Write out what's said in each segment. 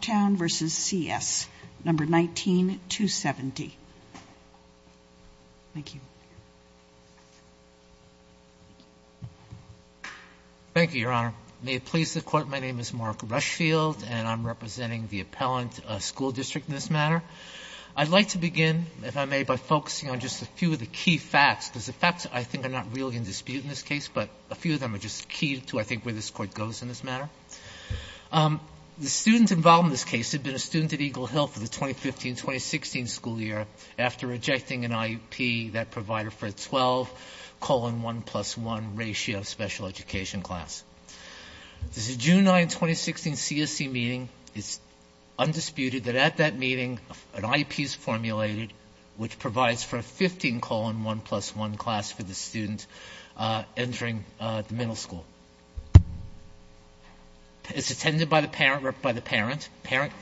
Town versus CS, number 19-270. Thank you. Thank you, Your Honor. May it please the Court, my name is Mark Rushfield, and I'm representing the Appellant School District in this matter. I'd like to begin, if I may, by focusing on just a few of the key facts, because the facts I think are not really in dispute in this case, but a few of them are just key to, I think, where this Court goes in this matter. The students involved in this case had been a student at Eagle Hill for the 2015-2016 school year after rejecting an IEP that provided for a 12-1 plus 1 ratio special education class. This is a June 9, 2016, CSC meeting. It's undisputed that at that meeting, an IEP is formulated which provides for a 15-1 plus 1 class for the student entering the middle school. It's attended by the parent. The parent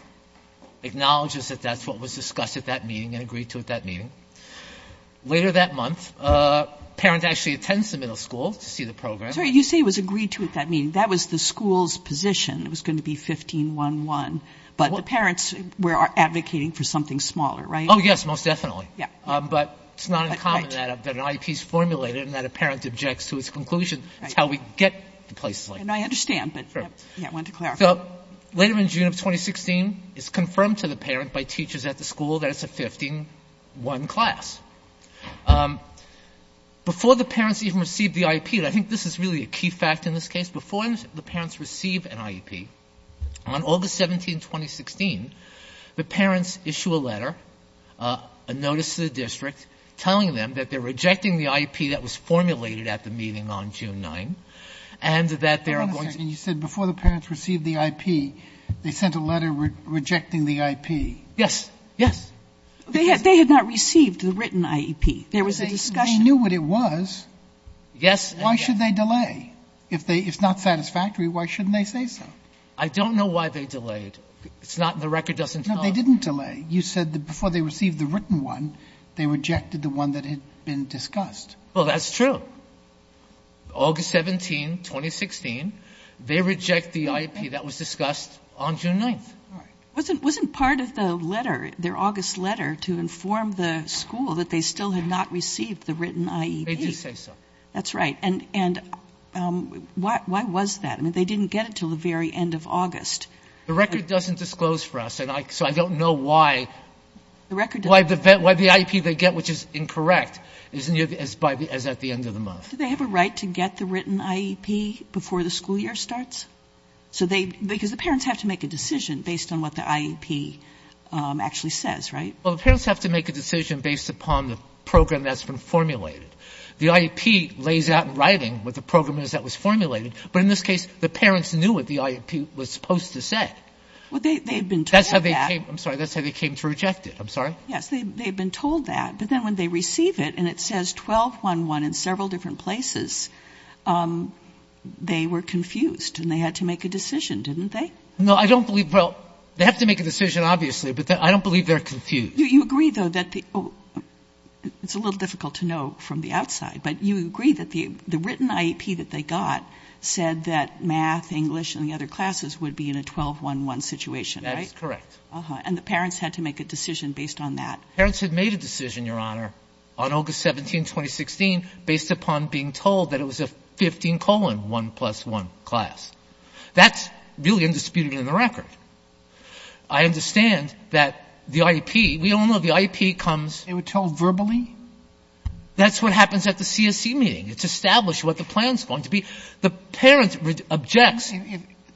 acknowledges that that's what was discussed at that meeting and agreed to at that meeting. Later that month, the parent actually attends the middle school to see the program. Sorry, you say it was agreed to at that meeting. That was the school's position. It was going to be 15-1-1. But the parents were advocating for something smaller, right? Oh, yes, most definitely. But it's not uncommon that an IEP is formulated and that a parent objects to its conclusion. That's how we get to places like that. I understand, but I wanted to clarify. So later in June of 2016, it's confirmed to the parent by teachers at the school that it's a 15-1 class. Before the parents even received the IEP, and I think this is really a key fact in this case, before the parents receive an IEP, on August 17, 2016, the parents issue a letter, a notice to the district, telling them that they're rejecting the IEP that was formulated at the meeting on June 9, and that they're going to be Wait a second. You said before the parents received the IEP, they sent a letter rejecting the IEP. Yes. Yes. They had not received the written IEP. There was a discussion. They knew what it was. Yes. Why should they delay? If it's not satisfactory, why shouldn't they say so? I don't know why they delayed. The record doesn't tell us. No, they didn't delay. You said that before they received the written one, they rejected the one that had been discussed. Well, that's true. August 17, 2016, they reject the IEP that was discussed on June 9. All right. Wasn't part of the letter, their August letter, to inform the school that they still had not received the written IEP? They did say so. That's right. And why was that? I mean, they didn't get it until the very end of August. The record doesn't disclose for us, and so I don't know why the IEP they get, which is incorrect, is as near as at the end of the month. Do they have a right to get the written IEP before the school year starts? Because the parents have to make a decision based on what the IEP actually says, right? Well, the parents have to make a decision based upon the program that's been formulated. The IEP lays out in writing what the program is that was formulated. But in this case, the parents knew what the IEP was supposed to say. Well, they've been told that. That's how they came. I'm sorry. That's how they came to reject it. I'm sorry. Yes, they've been told that. But then when they receive it and it says 12-1-1 in several different places, they were confused and they had to make a decision, didn't they? No, I don't believe. Well, they have to make a decision, obviously, but I don't believe they're confused. You agree, though, that it's a little difficult to know from the outside, but you agree that the written IEP that they got said that math, English, and the other classes would be in a 12-1-1 situation, right? That's correct. And the parents had to make a decision based on that. Parents had made a decision, Your Honor, on August 17, 2016, based upon being told that it was a 15-colon 1-plus-1 class. That's really undisputed in the record. I understand that the IEP — we all know the IEP comes — They were told verbally? That's what happens at the CSE meeting. It's established what the plan's going to be. The parent objects.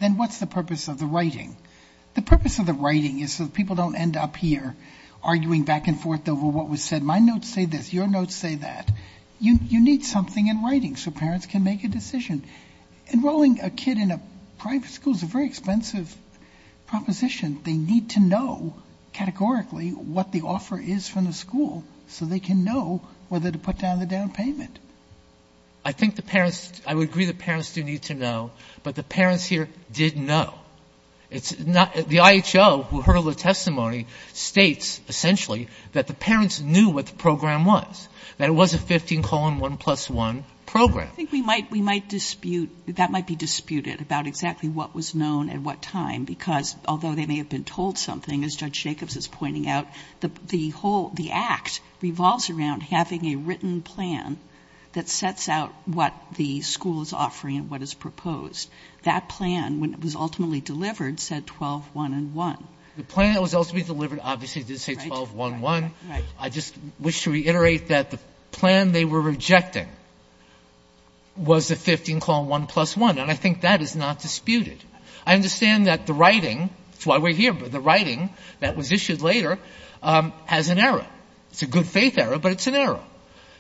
Then what's the purpose of the writing? The purpose of the writing is so that people don't end up here arguing back and forth over what was said. My notes say this. Your notes say that. You need something in writing so parents can make a decision. Enrolling a kid in a private school is a very expensive proposition. They need to know categorically what the offer is from the school so they can know whether to put down the down payment. I think the parents — I would agree the parents do need to know, but the parents here did know. The IHO, who heard all the testimony, states, essentially, that the parents knew what the program was, that it was a 15-colon 1-plus-1 program. We might dispute — that might be disputed about exactly what was known at what time, because although they may have been told something, as Judge Jacobs is pointing out, the act revolves around having a written plan that sets out what the school is offering and what is proposed. That plan, when it was ultimately delivered, said 12-1-1. The plan that was ultimately delivered obviously did say 12-1-1. I just wish to reiterate that the plan they were rejecting was a 15-colon 1-plus-1, and I think that is not disputed. I understand that the writing — that's why we're here — but the writing that was issued later has an error. It's a good-faith error, but it's an error.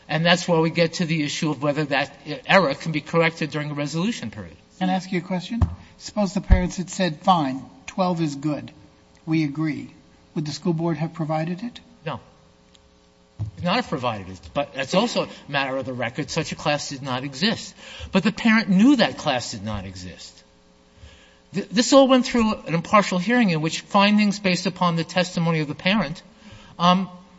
And that's where we get to the issue of whether that error can be corrected during a resolution period. Can I ask you a question? Suppose the parents had said, fine, 12 is good, we agree. Would the school board have provided it? No. It would not have provided it, but that's also a matter of the record. Such a class did not exist. But the parent knew that class did not exist. This all went through an impartial hearing in which findings based upon the testimony of the parent,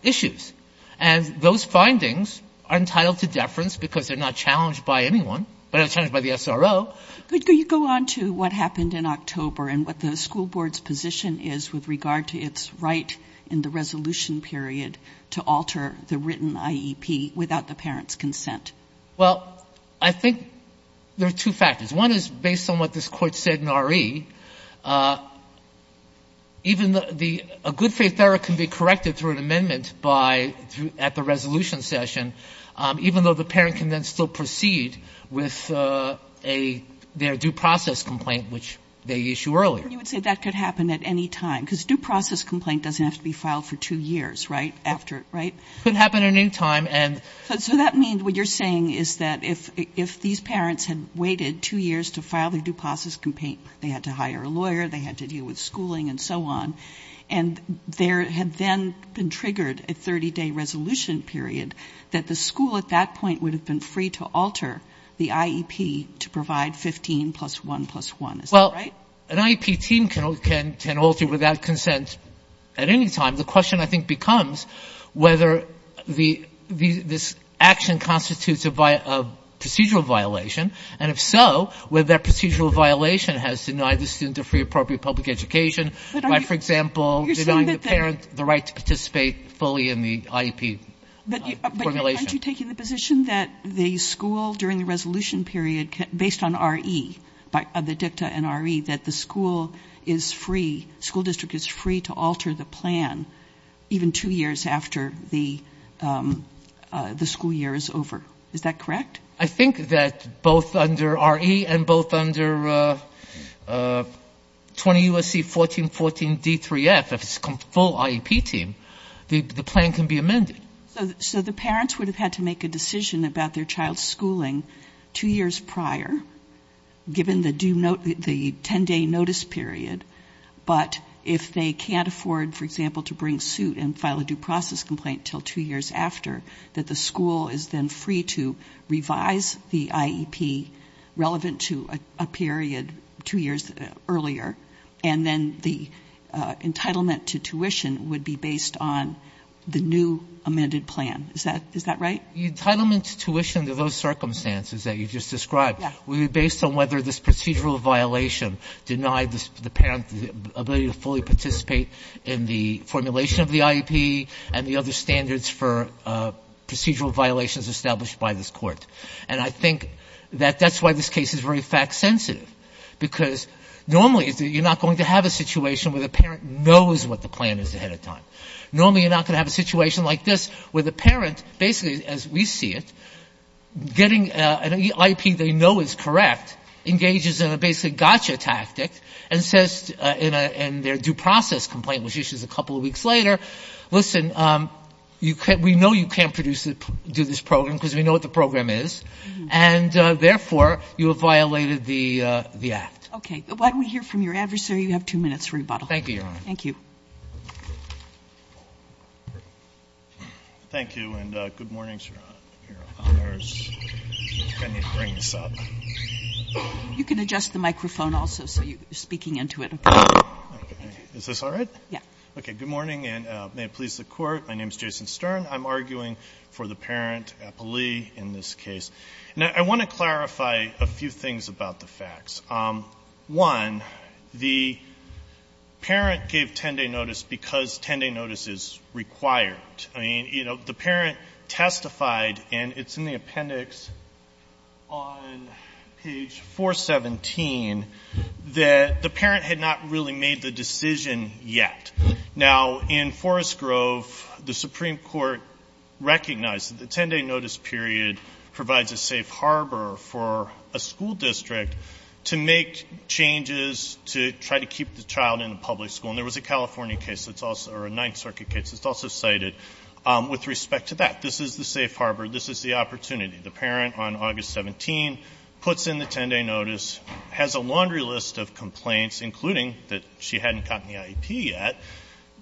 issues. And those findings are entitled to deference because they're not challenged by anyone, but not challenged by the SRO. Could you go on to what happened in October and what the school board's position is with regard to its right in the resolution period to alter the written IEP without the parent's consent? Well, I think there are two factors. One is based on what this Court said in R.E. Even the — a good-faith error can be corrected through an amendment by — at the resolution session, even though the parent can then still proceed with a — their due process complaint, which they issue earlier. And you would say that could happen at any time? Because due process complaint doesn't have to be filed for two years, right, after — right? It could happen at any time, and — So that means what you're saying is that if these parents had waited two years to file their due process complaint, they had to hire a lawyer, they had to deal with schooling and so on, and there had then been triggered a 30-day resolution period, that the school at that point would have been free to alter the IEP to provide 15 plus 1 plus 1. Is that right? Well, an IEP team can alter without consent at any time. The question, I think, becomes whether the — this action constitutes a procedural violation, and if so, whether that procedural violation has denied the student a free, appropriate public education by, for example, denying the parent the right to participate fully in the IEP formulation. But aren't you taking the position that the school, during the resolution period, based on R.E., the dicta and R.E., that the school is free — school district is free to alter the plan even two years after the school year is over. Is that correct? I think that both under R.E. and both under 20 U.S.C. 1414 D3F, if it's a full IEP team, the plan can be amended. So the parents would have had to make a decision about their child's schooling two years prior, given the 10-day notice period, but if they can't afford, for example, to bring suit and file a due process complaint until two years after, that the school is then free to revise the IEP relevant to a period two years earlier, and then the entitlement to tuition would be based on the new amended plan. Is that right? The entitlement to tuition to those circumstances that you just described would be based on whether this procedural violation denied the parent the ability to fully participate in the formulation of the IEP and the other standards for procedural violations established by this court. And I think that that's why this case is very fact-sensitive, because normally you're not going to have a situation where the parent knows what the plan is ahead of time. Normally you're not going to have a situation like this, where the parent, basically as we see it, getting an IEP they know is correct, engages in a basic gotcha tactic, and says in their due process complaint, which issues a couple of weeks later, listen, we know you can't do this program because we know what the program is, and therefore you have violated the act. Okay. Why don't we hear from your adversary? You have two minutes for rebuttal. Thank you, Your Honor. Thank you. Thank you, and good morning, Your Honor. I need to bring this up. You can adjust the microphone also, so you're speaking into it. Is this all right? Yes. Okay. Good morning, and may it please the Court. My name is Jason Stern. I'm arguing for the parent, Applee, in this case. Now, I want to clarify a few things about the facts. One, the parent gave 10-day notice because 10-day notice is required. I mean, you know, the parent testified, and it's in the appendix on page 417, that the parent had not really made the decision yet. Now, in Forest Grove, the Supreme Court recognized that the 10-day notice period provides a safe harbor for a school district to make changes to try to keep the child in a public school. And there was a California case that's also – or a Ninth Circuit case that's also cited with respect to that. This is the safe harbor. This is the opportunity. The parent, on August 17, puts in the 10-day notice, has a laundry list of complaints, including that she hadn't gotten the IEP yet.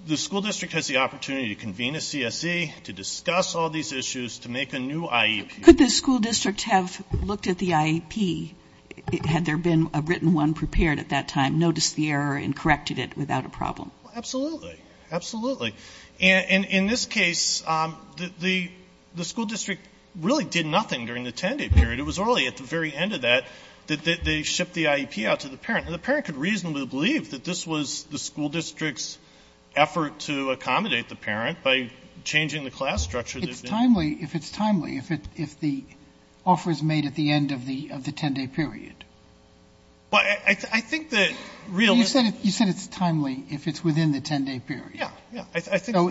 The school district has the opportunity to convene a CSE, to discuss all these issues, to make a new IEP. Could the school district have looked at the IEP, had there been a written one prepared at that time, noticed the error, and corrected it without a problem? Well, absolutely. Absolutely. And in this case, the school district really did nothing during the 10-day period. It was only at the very end of that that they shipped the IEP out to the parent. And the parent could reasonably believe that this was the school district's timely, if it's timely, if the offer is made at the end of the 10-day period. Well, I think the real — You said it's timely if it's within the 10-day period. Yeah. Yeah. I think — So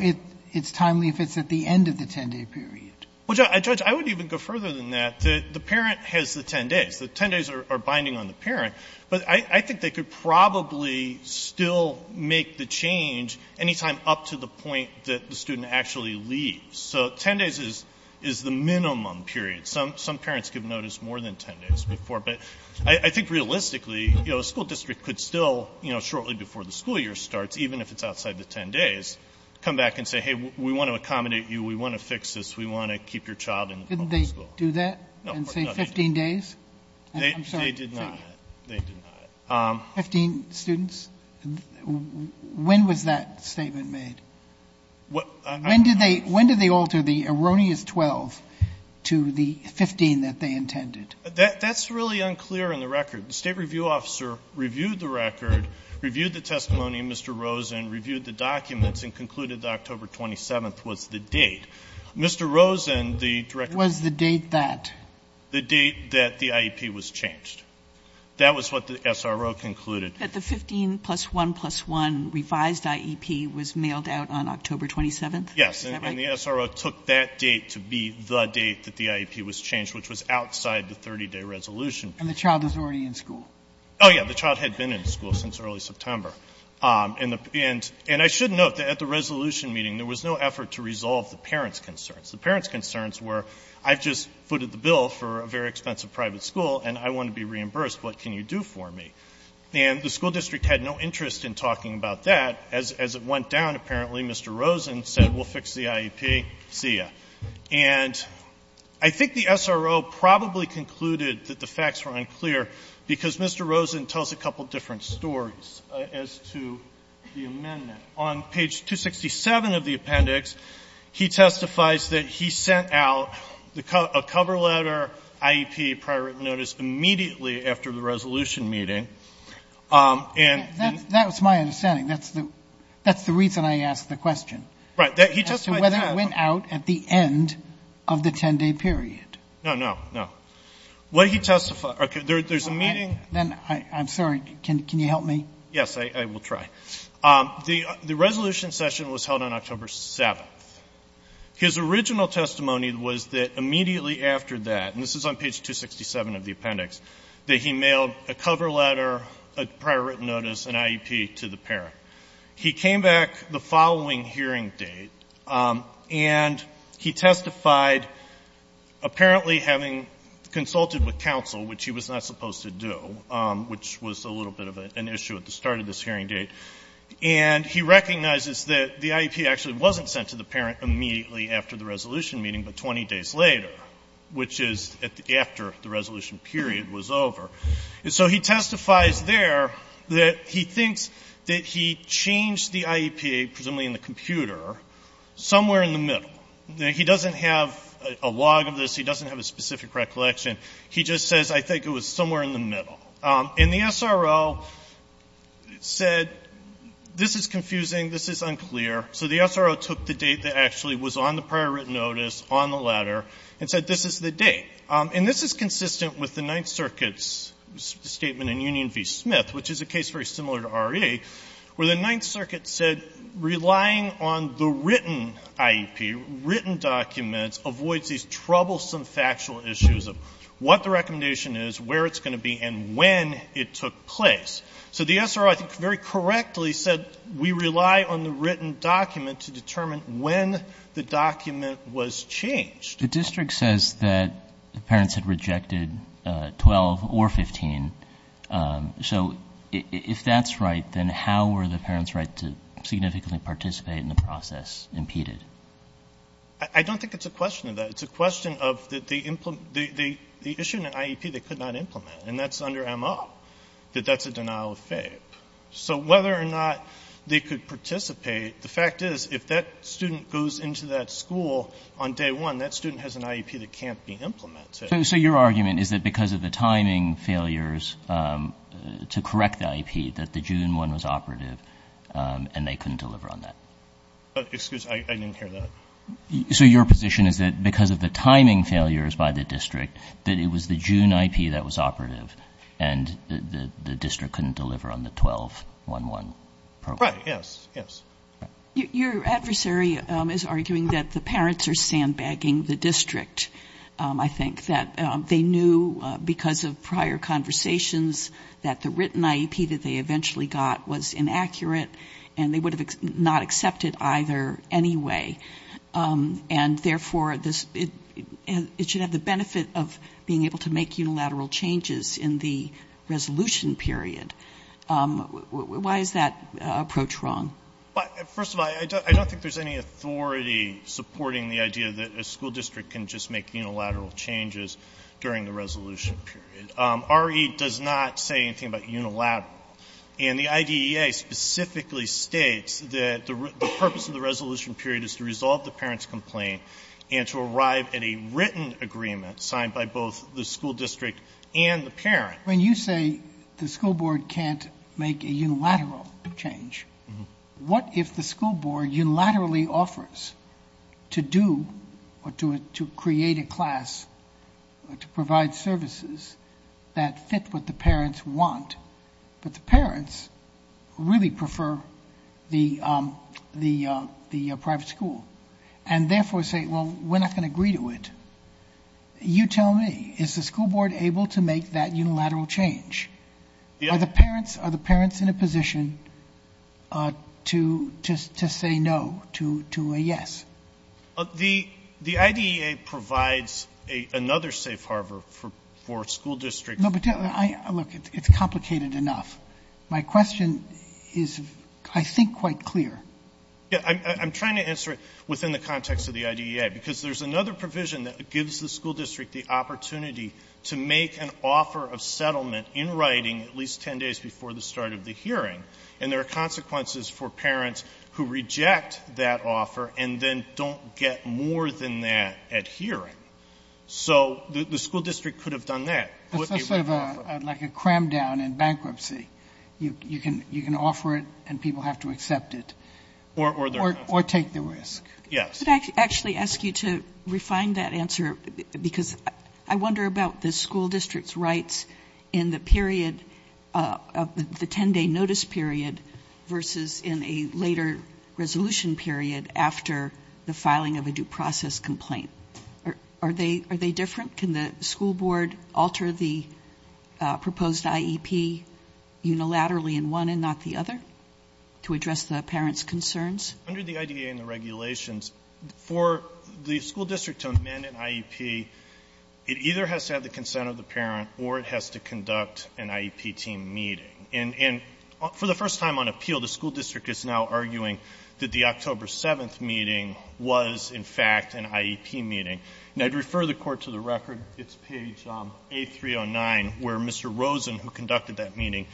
it's timely if it's at the end of the 10-day period. Well, Judge, I would even go further than that. The parent has the 10 days. The 10 days are binding on the parent. But I think they could probably still make the change any time up to the point that the student actually leaves. So 10 days is the minimum period. Some parents give notice more than 10 days before. But I think realistically, you know, a school district could still, you know, shortly before the school year starts, even if it's outside the 10 days, come back and say, hey, we want to accommodate you, we want to fix this, we want to keep your child in the public school. Didn't they do that and say 15 days? No. They did not. They did not. Fifteen students? When was that statement made? When did they alter the erroneous 12 to the 15 that they intended? That's really unclear in the record. The state review officer reviewed the record, reviewed the testimony of Mr. Rosen, reviewed the documents, and concluded that October 27th was the date. Mr. Rosen, the director — Was the date that? The date that the IEP was changed. That was what the SRO concluded. That the 15 plus 1 plus 1 revised IEP was mailed out on October 27th? Yes. And the SRO took that date to be the date that the IEP was changed, which was outside the 30-day resolution. And the child is already in school? Oh, yeah. The child had been in school since early September. And I should note that at the resolution meeting, there was no effort to resolve the parents' concerns. The parents' concerns were, I've just footed the bill for a very expensive private school, and I want to be reimbursed. What can you do for me? And the school district had no interest in talking about that. As it went down, apparently, Mr. Rosen said, we'll fix the IEP, see you. And I think the SRO probably concluded that the facts were unclear because Mr. Rosen tells a couple of different stories as to the amendment. On page 267 of the appendix, he testifies that he sent out a cover letter IEP prior written notice immediately after the resolution meeting. That's my understanding. That's the reason I asked the question. Right. He testified that. As to whether it went out at the end of the 10-day period. No, no, no. What he testified – there's a meeting. I'm sorry. Can you help me? Yes, I will try. The resolution session was held on October 7th. His original testimony was that immediately after that – and this is on page 267 of the appendix – that he mailed a cover letter, a prior written notice, an IEP to the parent. He came back the following hearing date, and he testified, apparently having consulted with counsel, which he was not supposed to do, which was a little bit of an issue at the start of this hearing date, and he recognizes that the IEP actually wasn't sent to the parent immediately after the resolution meeting, but 20 days later, which is after the resolution period was over. And so he testifies there that he thinks that he changed the IEP, presumably in the computer, somewhere in the middle. He doesn't have a log of this. He doesn't have a specific recollection. He just says, I think it was somewhere in the middle. And the SRO said, this is confusing, this is unclear. So the SRO took the date that actually was on the prior written notice, on the letter, and said, this is the date. And this is consistent with the Ninth Circuit's statement in Union v. Smith, which is a case very similar to RE, where the Ninth Circuit said, relying on the written IEP, written documents, avoids these troublesome factual issues of what the recommendation is, where it's going to be, and when it took place. So the SRO, I think, very correctly said, we rely on the written document to determine when the document was changed. The district says that the parents had rejected 12 or 15. So if that's right, then how were the parents' right to significantly participate in the process impeded? I don't think it's a question of that. It's a question of the issue in an IEP they could not implement. And that's under M.O., that that's a denial of FAPE. So whether or not they could participate, the fact is, if that student goes into that school on day one, that student has an IEP that can't be implemented. So your argument is that because of the timing failures to correct the IEP, that the June 1 was operative, and they couldn't deliver on that? Excuse me. I didn't hear that. So your position is that because of the timing failures by the district, that it was the June IEP that was operative, and the district couldn't deliver on the 12-1-1 program? Right. Yes. Yes. Your adversary is arguing that the parents are sandbagging the district. I think that they knew, because of prior conversations, that the written IEP that they accepted either anyway. And therefore, it should have the benefit of being able to make unilateral changes in the resolution period. Why is that approach wrong? First of all, I don't think there's any authority supporting the idea that a school district can just make unilateral changes during the resolution period. RE does not say anything about unilateral. And the IDEA specifically states that the purpose of the resolution period is to resolve the parents' complaint and to arrive at a written agreement signed by both the school district and the parent. When you say the school board can't make a unilateral change, what if the school board unilaterally offers to do or to create a class, to provide services that fit what the parents want, but the parents really prefer the private school, and therefore say, well, we're not going to agree to it. You tell me. Is the school board able to make that unilateral change? Are the parents in a position to say no, to a yes? The IDEA provides another safe harbor for school districts. No, but look, it's complicated enough. My question is, I think, quite clear. I'm trying to answer it within the context of the IDEA, because there's another provision that gives the school district the opportunity to make an offer of settlement in writing at least 10 days before the start of the hearing. And there are consequences for parents who reject that offer and then don't get more than that at hearing. So the school district could have done that. It's sort of like a cram down in bankruptcy. You can offer it and people have to accept it. Or take the risk. Could I actually ask you to refine that answer, because I wonder about the school district's rights in the period of the 10-day notice period versus in a later resolution period after the filing of a due process complaint. Are they different? Can the school board alter the proposed IEP unilaterally in one and not the other to address the parents' concerns? Under the IDEA and the regulations, for the school district to amend an IEP, it either has to have the consent of the parent or it has to conduct an IEP team meeting. And for the first time on appeal, the school district is now arguing that the October 7th meeting was, in fact, an IEP meeting. I would refer the Court to the record. It's page A309, where Mr. Rosen, who conducted that meeting,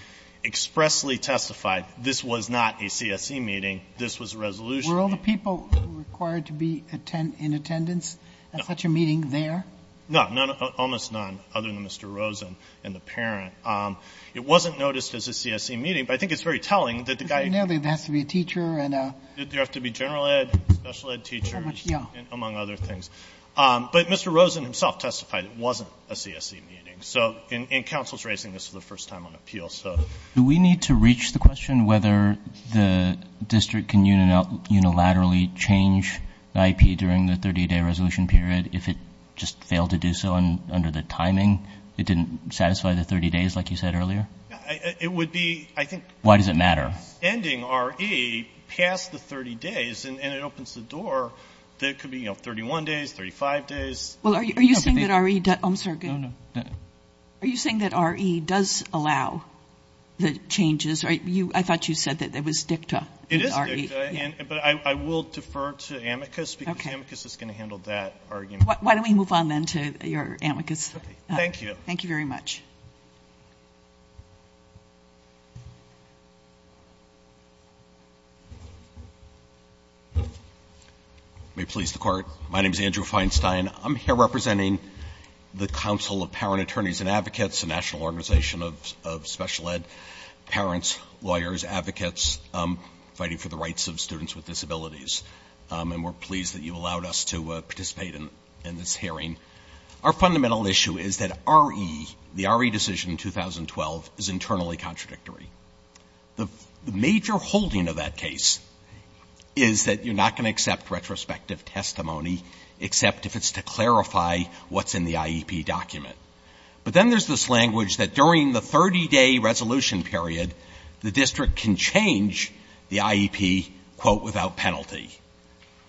expressly testified this was not a CSE meeting. This was a resolution meeting. Were all the people required to be in attendance at such a meeting there? No. Almost none, other than Mr. Rosen and the parent. It wasn't noticed as a CSE meeting, but I think it's very telling that the guy has to be a teacher. Did there have to be general ed, special ed teachers, among other things? But Mr. Rosen himself testified it wasn't a CSE meeting, and counsel is raising this for the first time on appeal. Do we need to reach the question whether the district can unilaterally change the IEP during the 30-day resolution period if it just failed to do so under the timing? It didn't satisfy the 30 days, like you said earlier? Why does it matter? Ending R.E. past the 30 days, and it opens the door that it could be 31 days, 35 days. Are you saying that R.E. does allow the changes? I thought you said that it was dicta. It is dicta, but I will defer to amicus, because amicus is going to handle that argument. Why don't we move on, then, to your amicus? My name is Andrew Feinstein. I'm here representing the Council of Parent Attorneys and Advocates, a national organization of special ed parents, lawyers, advocates, fighting for the rights of students with disabilities. And we're pleased that you allowed us to participate in this hearing. Our fundamental issue is that R.E., the R.E. decision in 2012, is internally contradictory. The major holding of that case is that you're not going to accept retrospective testimony, except if it's to clarify what's in the IEP document. But then there's this language that during the 30-day resolution period, the district can change the IEP, quote, without penalty.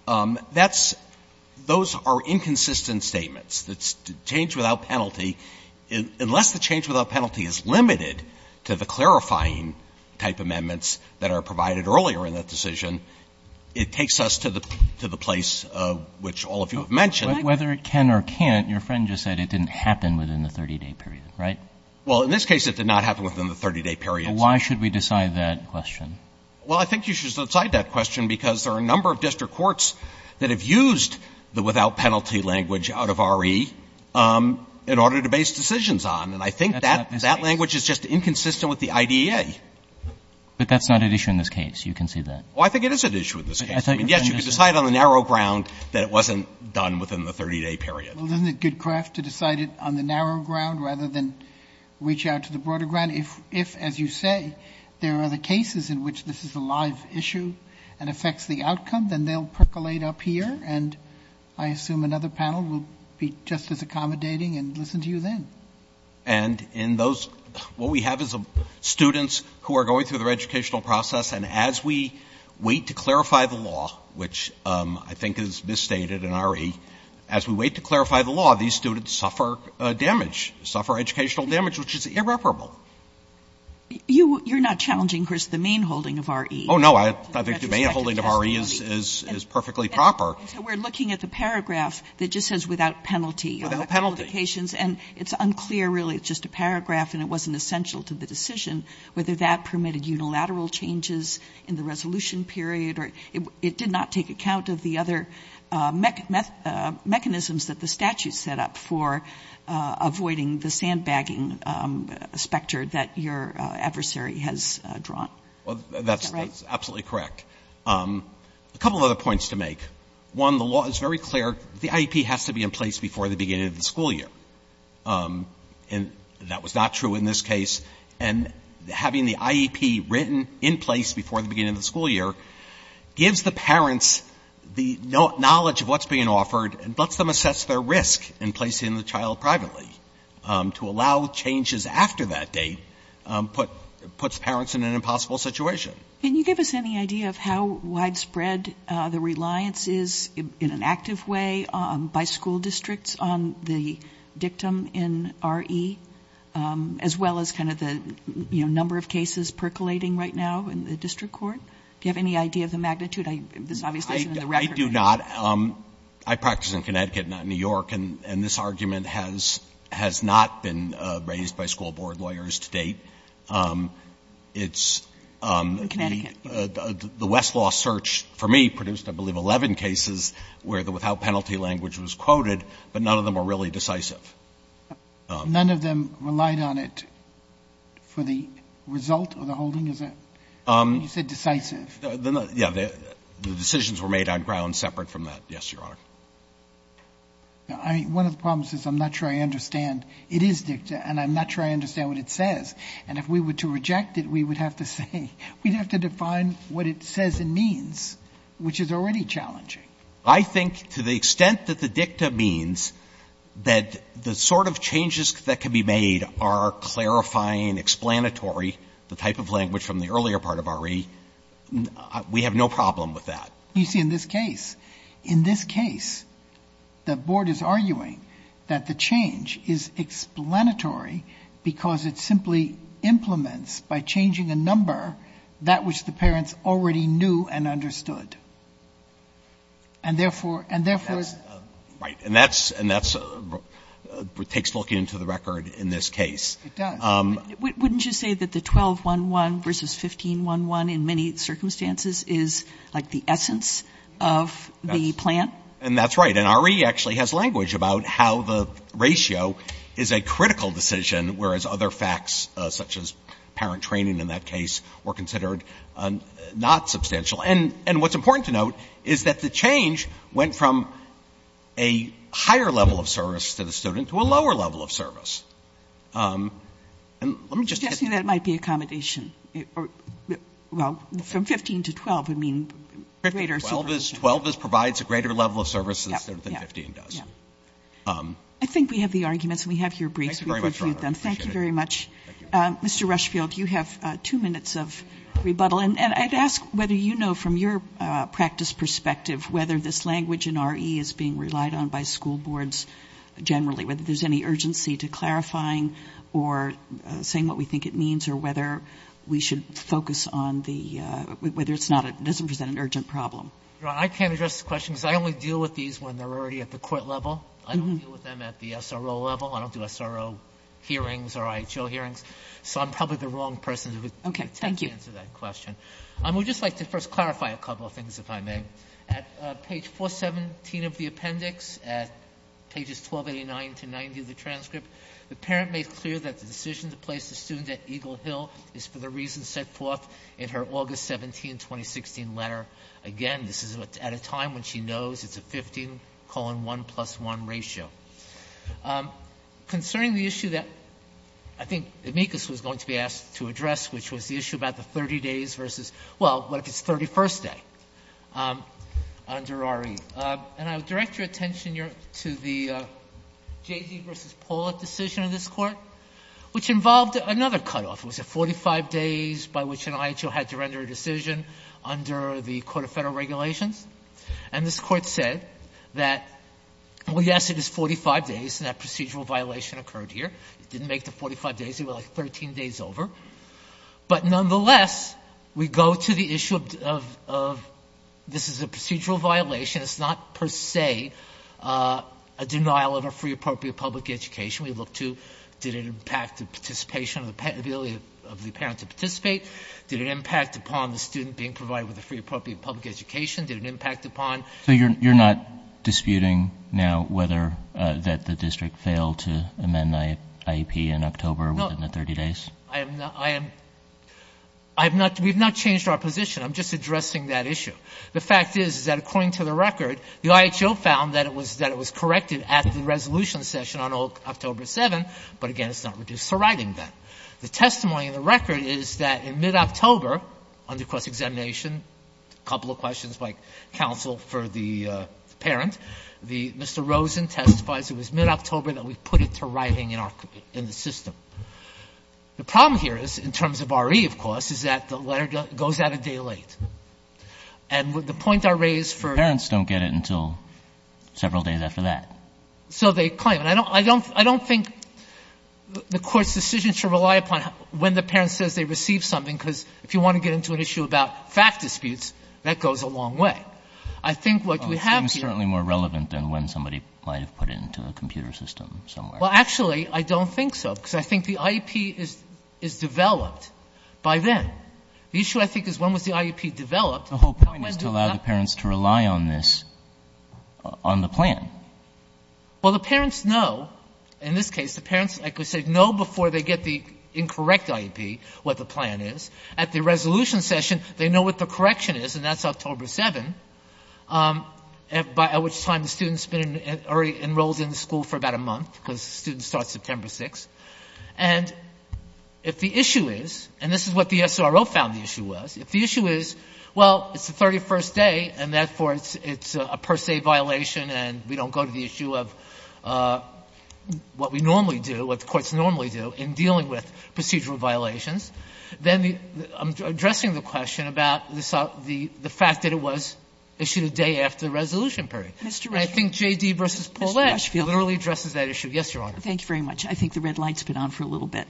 That's — those are inconsistent statements. Change without penalty, unless the change without penalty is limited to the clarifying type amendments that are provided earlier in that decision, it takes us to the place which all of you have mentioned. But whether it can or can't, your friend just said it didn't happen within the 30-day period, right? Well, in this case, it did not happen within the 30-day period. Why should we decide that question? Well, I think you should decide that question because there are a number of district courts that have used the without penalty language out of R.E. in order to base decisions on. And I think that language is just inconsistent with the IDEA. But that's not at issue in this case. You can see that. Well, I think it is at issue in this case. I mean, yes, you can decide on the narrow ground that it wasn't done within the 30-day period. Well, isn't it good craft to decide it on the narrow ground rather than reach out to the broader ground? If, as you say, there are other cases in which this is a live issue and affects the outcome, then they'll percolate up here, and I assume another panel will be just as accommodating and listen to you then. And in those, what we have is students who are going through their educational process, and as we wait to clarify the law, which I think is misstated in R.E., as we wait to clarify the law, these students suffer damage, suffer educational damage, which is irreparable. You're not challenging, Chris, the main holding of R.E. Oh, no. I think the main holding of R.E. is perfectly proper. So we're looking at the paragraph that just says without penalty. Without penalty. And it's unclear, really. It's just a paragraph, and it wasn't essential to the decision whether that permitted unilateral changes in the resolution period. It did not take account of the other mechanisms that the statute set up for avoiding the sandbagging specter that your adversary has drawn. That's absolutely correct. A couple of other points to make. One, the law is very clear. The IEP has to be in place before the beginning of the school year. And that was not true in this case. And having the IEP written in place before the beginning of the school year gives the parents the knowledge of what's being offered and lets them assess their risk in placing the child privately. To allow changes after that date puts parents in an impossible situation. Can you give us any idea of how widespread the reliance is in an active way by school districts on the dictum in R.E., as well as kind of the, you know, number of cases percolating right now in the district court? Do you have any idea of the magnitude? This obviously isn't in the record. I do not. I practice in Connecticut, not New York. And this argument has not been raised by school board lawyers to date. It's the Westlaw search, for me, produced, I believe, 11 cases where the without penalty language was quoted, but none of them were really decisive. None of them relied on it for the result of the holding? You said decisive. Yeah. The decisions were made on grounds separate from that. Yes, Your Honor. One of the problems is I'm not sure I understand. It is dictum, and I'm not sure I understand what it says. And if we were to reject it, we would have to say, we'd have to define what it says and means, which is already challenging. I think to the extent that the dictum means that the sort of changes that can be made are clarifying, explanatory, the type of language from the earlier part of R.E., we have no problem with that. You see, in this case, in this case, the board is arguing that the change is explanatory because it simply implements, by changing a number, that which the parents already knew and understood. And, therefore, and, therefore, Right. And that's what takes looking into the record in this case. It does. Wouldn't you say that the 12-1-1 versus 15-1-1, in many circumstances, is like the essence of the plan? And that's right. And R.E. actually has language about how the ratio is a critical decision, whereas other facts, such as parent training in that case, were considered not substantial. And what's important to note is that the change went from a higher level of service to the student to a lower level of service. And let me just hit I'm just guessing that might be accommodation. Well, from 15 to 12 would mean greater 12 provides a greater level of service than 15 does. I think we have the arguments and we have your briefs. Thank you very much, Your Honor. Thank you very much. Mr. Rushfield, you have two minutes of rebuttal. And I'd ask whether you know, from your practice perspective, whether this language in R.E. is being relied on by school boards generally, or whether we should focus on whether it doesn't present an urgent problem. Your Honor, I can't address the question because I only deal with these when they're already at the court level. I don't deal with them at the SRO level. I don't do SRO hearings or IHO hearings. So I'm probably the wrong person to answer that question. Okay. Thank you. I would just like to first clarify a couple of things, if I may. At page 417 of the appendix, at pages 1289 to 90 of the transcript, the parent made clear that the decision to place the student at Eagle Hill is for the reasons set forth in her August 17, 2016, letter. Again, this is at a time when she knows it's a 15-colon-1-plus-1 ratio. Concerning the issue that I think Amicus was going to be asked to address, which was the issue about the 30 days versus, well, what if it's 31st day under R.E. And I would direct your attention to the Jay Z versus Pollitt decision in this court, which involved another cutoff. It was a 45 days by which an IHO had to render a decision under the Court of Federal Regulations. And this court said that, well, yes, it is 45 days, and that procedural violation occurred here. It didn't make the 45 days. It was, like, 13 days over. But nonetheless, we go to the issue of this is a procedural violation. It's not per se a denial of a free, appropriate public education. We look to did it impact the participation of the ability of the parent to participate? Did it impact upon the student being provided with a free, appropriate public education? Did it impact upon? So you're not disputing now whether that the district failed to amend the IEP in October within the 30 days? I am not. We have not changed our position. I'm just addressing that issue. The fact is that, according to the record, the IHO found that it was corrected at the resolution session on October 7th. But, again, it's not reduced to writing then. The testimony in the record is that in mid-October, under cross-examination, a couple of questions by counsel for the parent, Mr. Rosen testifies it was mid-October that we put it to writing in the system. The problem here is, in terms of R.E., of course, is that the letter goes out a day late. And the point I raise for the parents don't get it until several days after that. So they claim it. I don't think the Court's decision should rely upon when the parent says they received something, because if you want to get into an issue about fact disputes, that goes a long way. But I think what we have here — It seems certainly more relevant than when somebody might have put it into a computer system somewhere. Well, actually, I don't think so, because I think the IEP is developed by then. The issue, I think, is when was the IEP developed? The whole point is to allow the parents to rely on this, on the plan. Well, the parents know. In this case, the parents, like I said, know before they get the incorrect IEP what the plan is. At the resolution session, they know what the correction is, and that's October 7th, by which time the student's been enrolled in the school for about a month, because the student starts September 6th. And if the issue is, and this is what the SRO found the issue was, if the issue is, well, it's the 31st day, and therefore it's a per se violation and we don't go to the issue of what we normally do, what the courts normally do in dealing with procedural violations, then I'm addressing the question about the fact that it was issued a day after the resolution period. And I think J.D. v. Paulette literally addresses that issue. Yes, Your Honor. Thank you very much. I think the red light's been on for a little bit.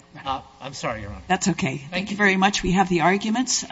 I'm sorry, Your Honor. That's okay. Thank you very much. We have the arguments.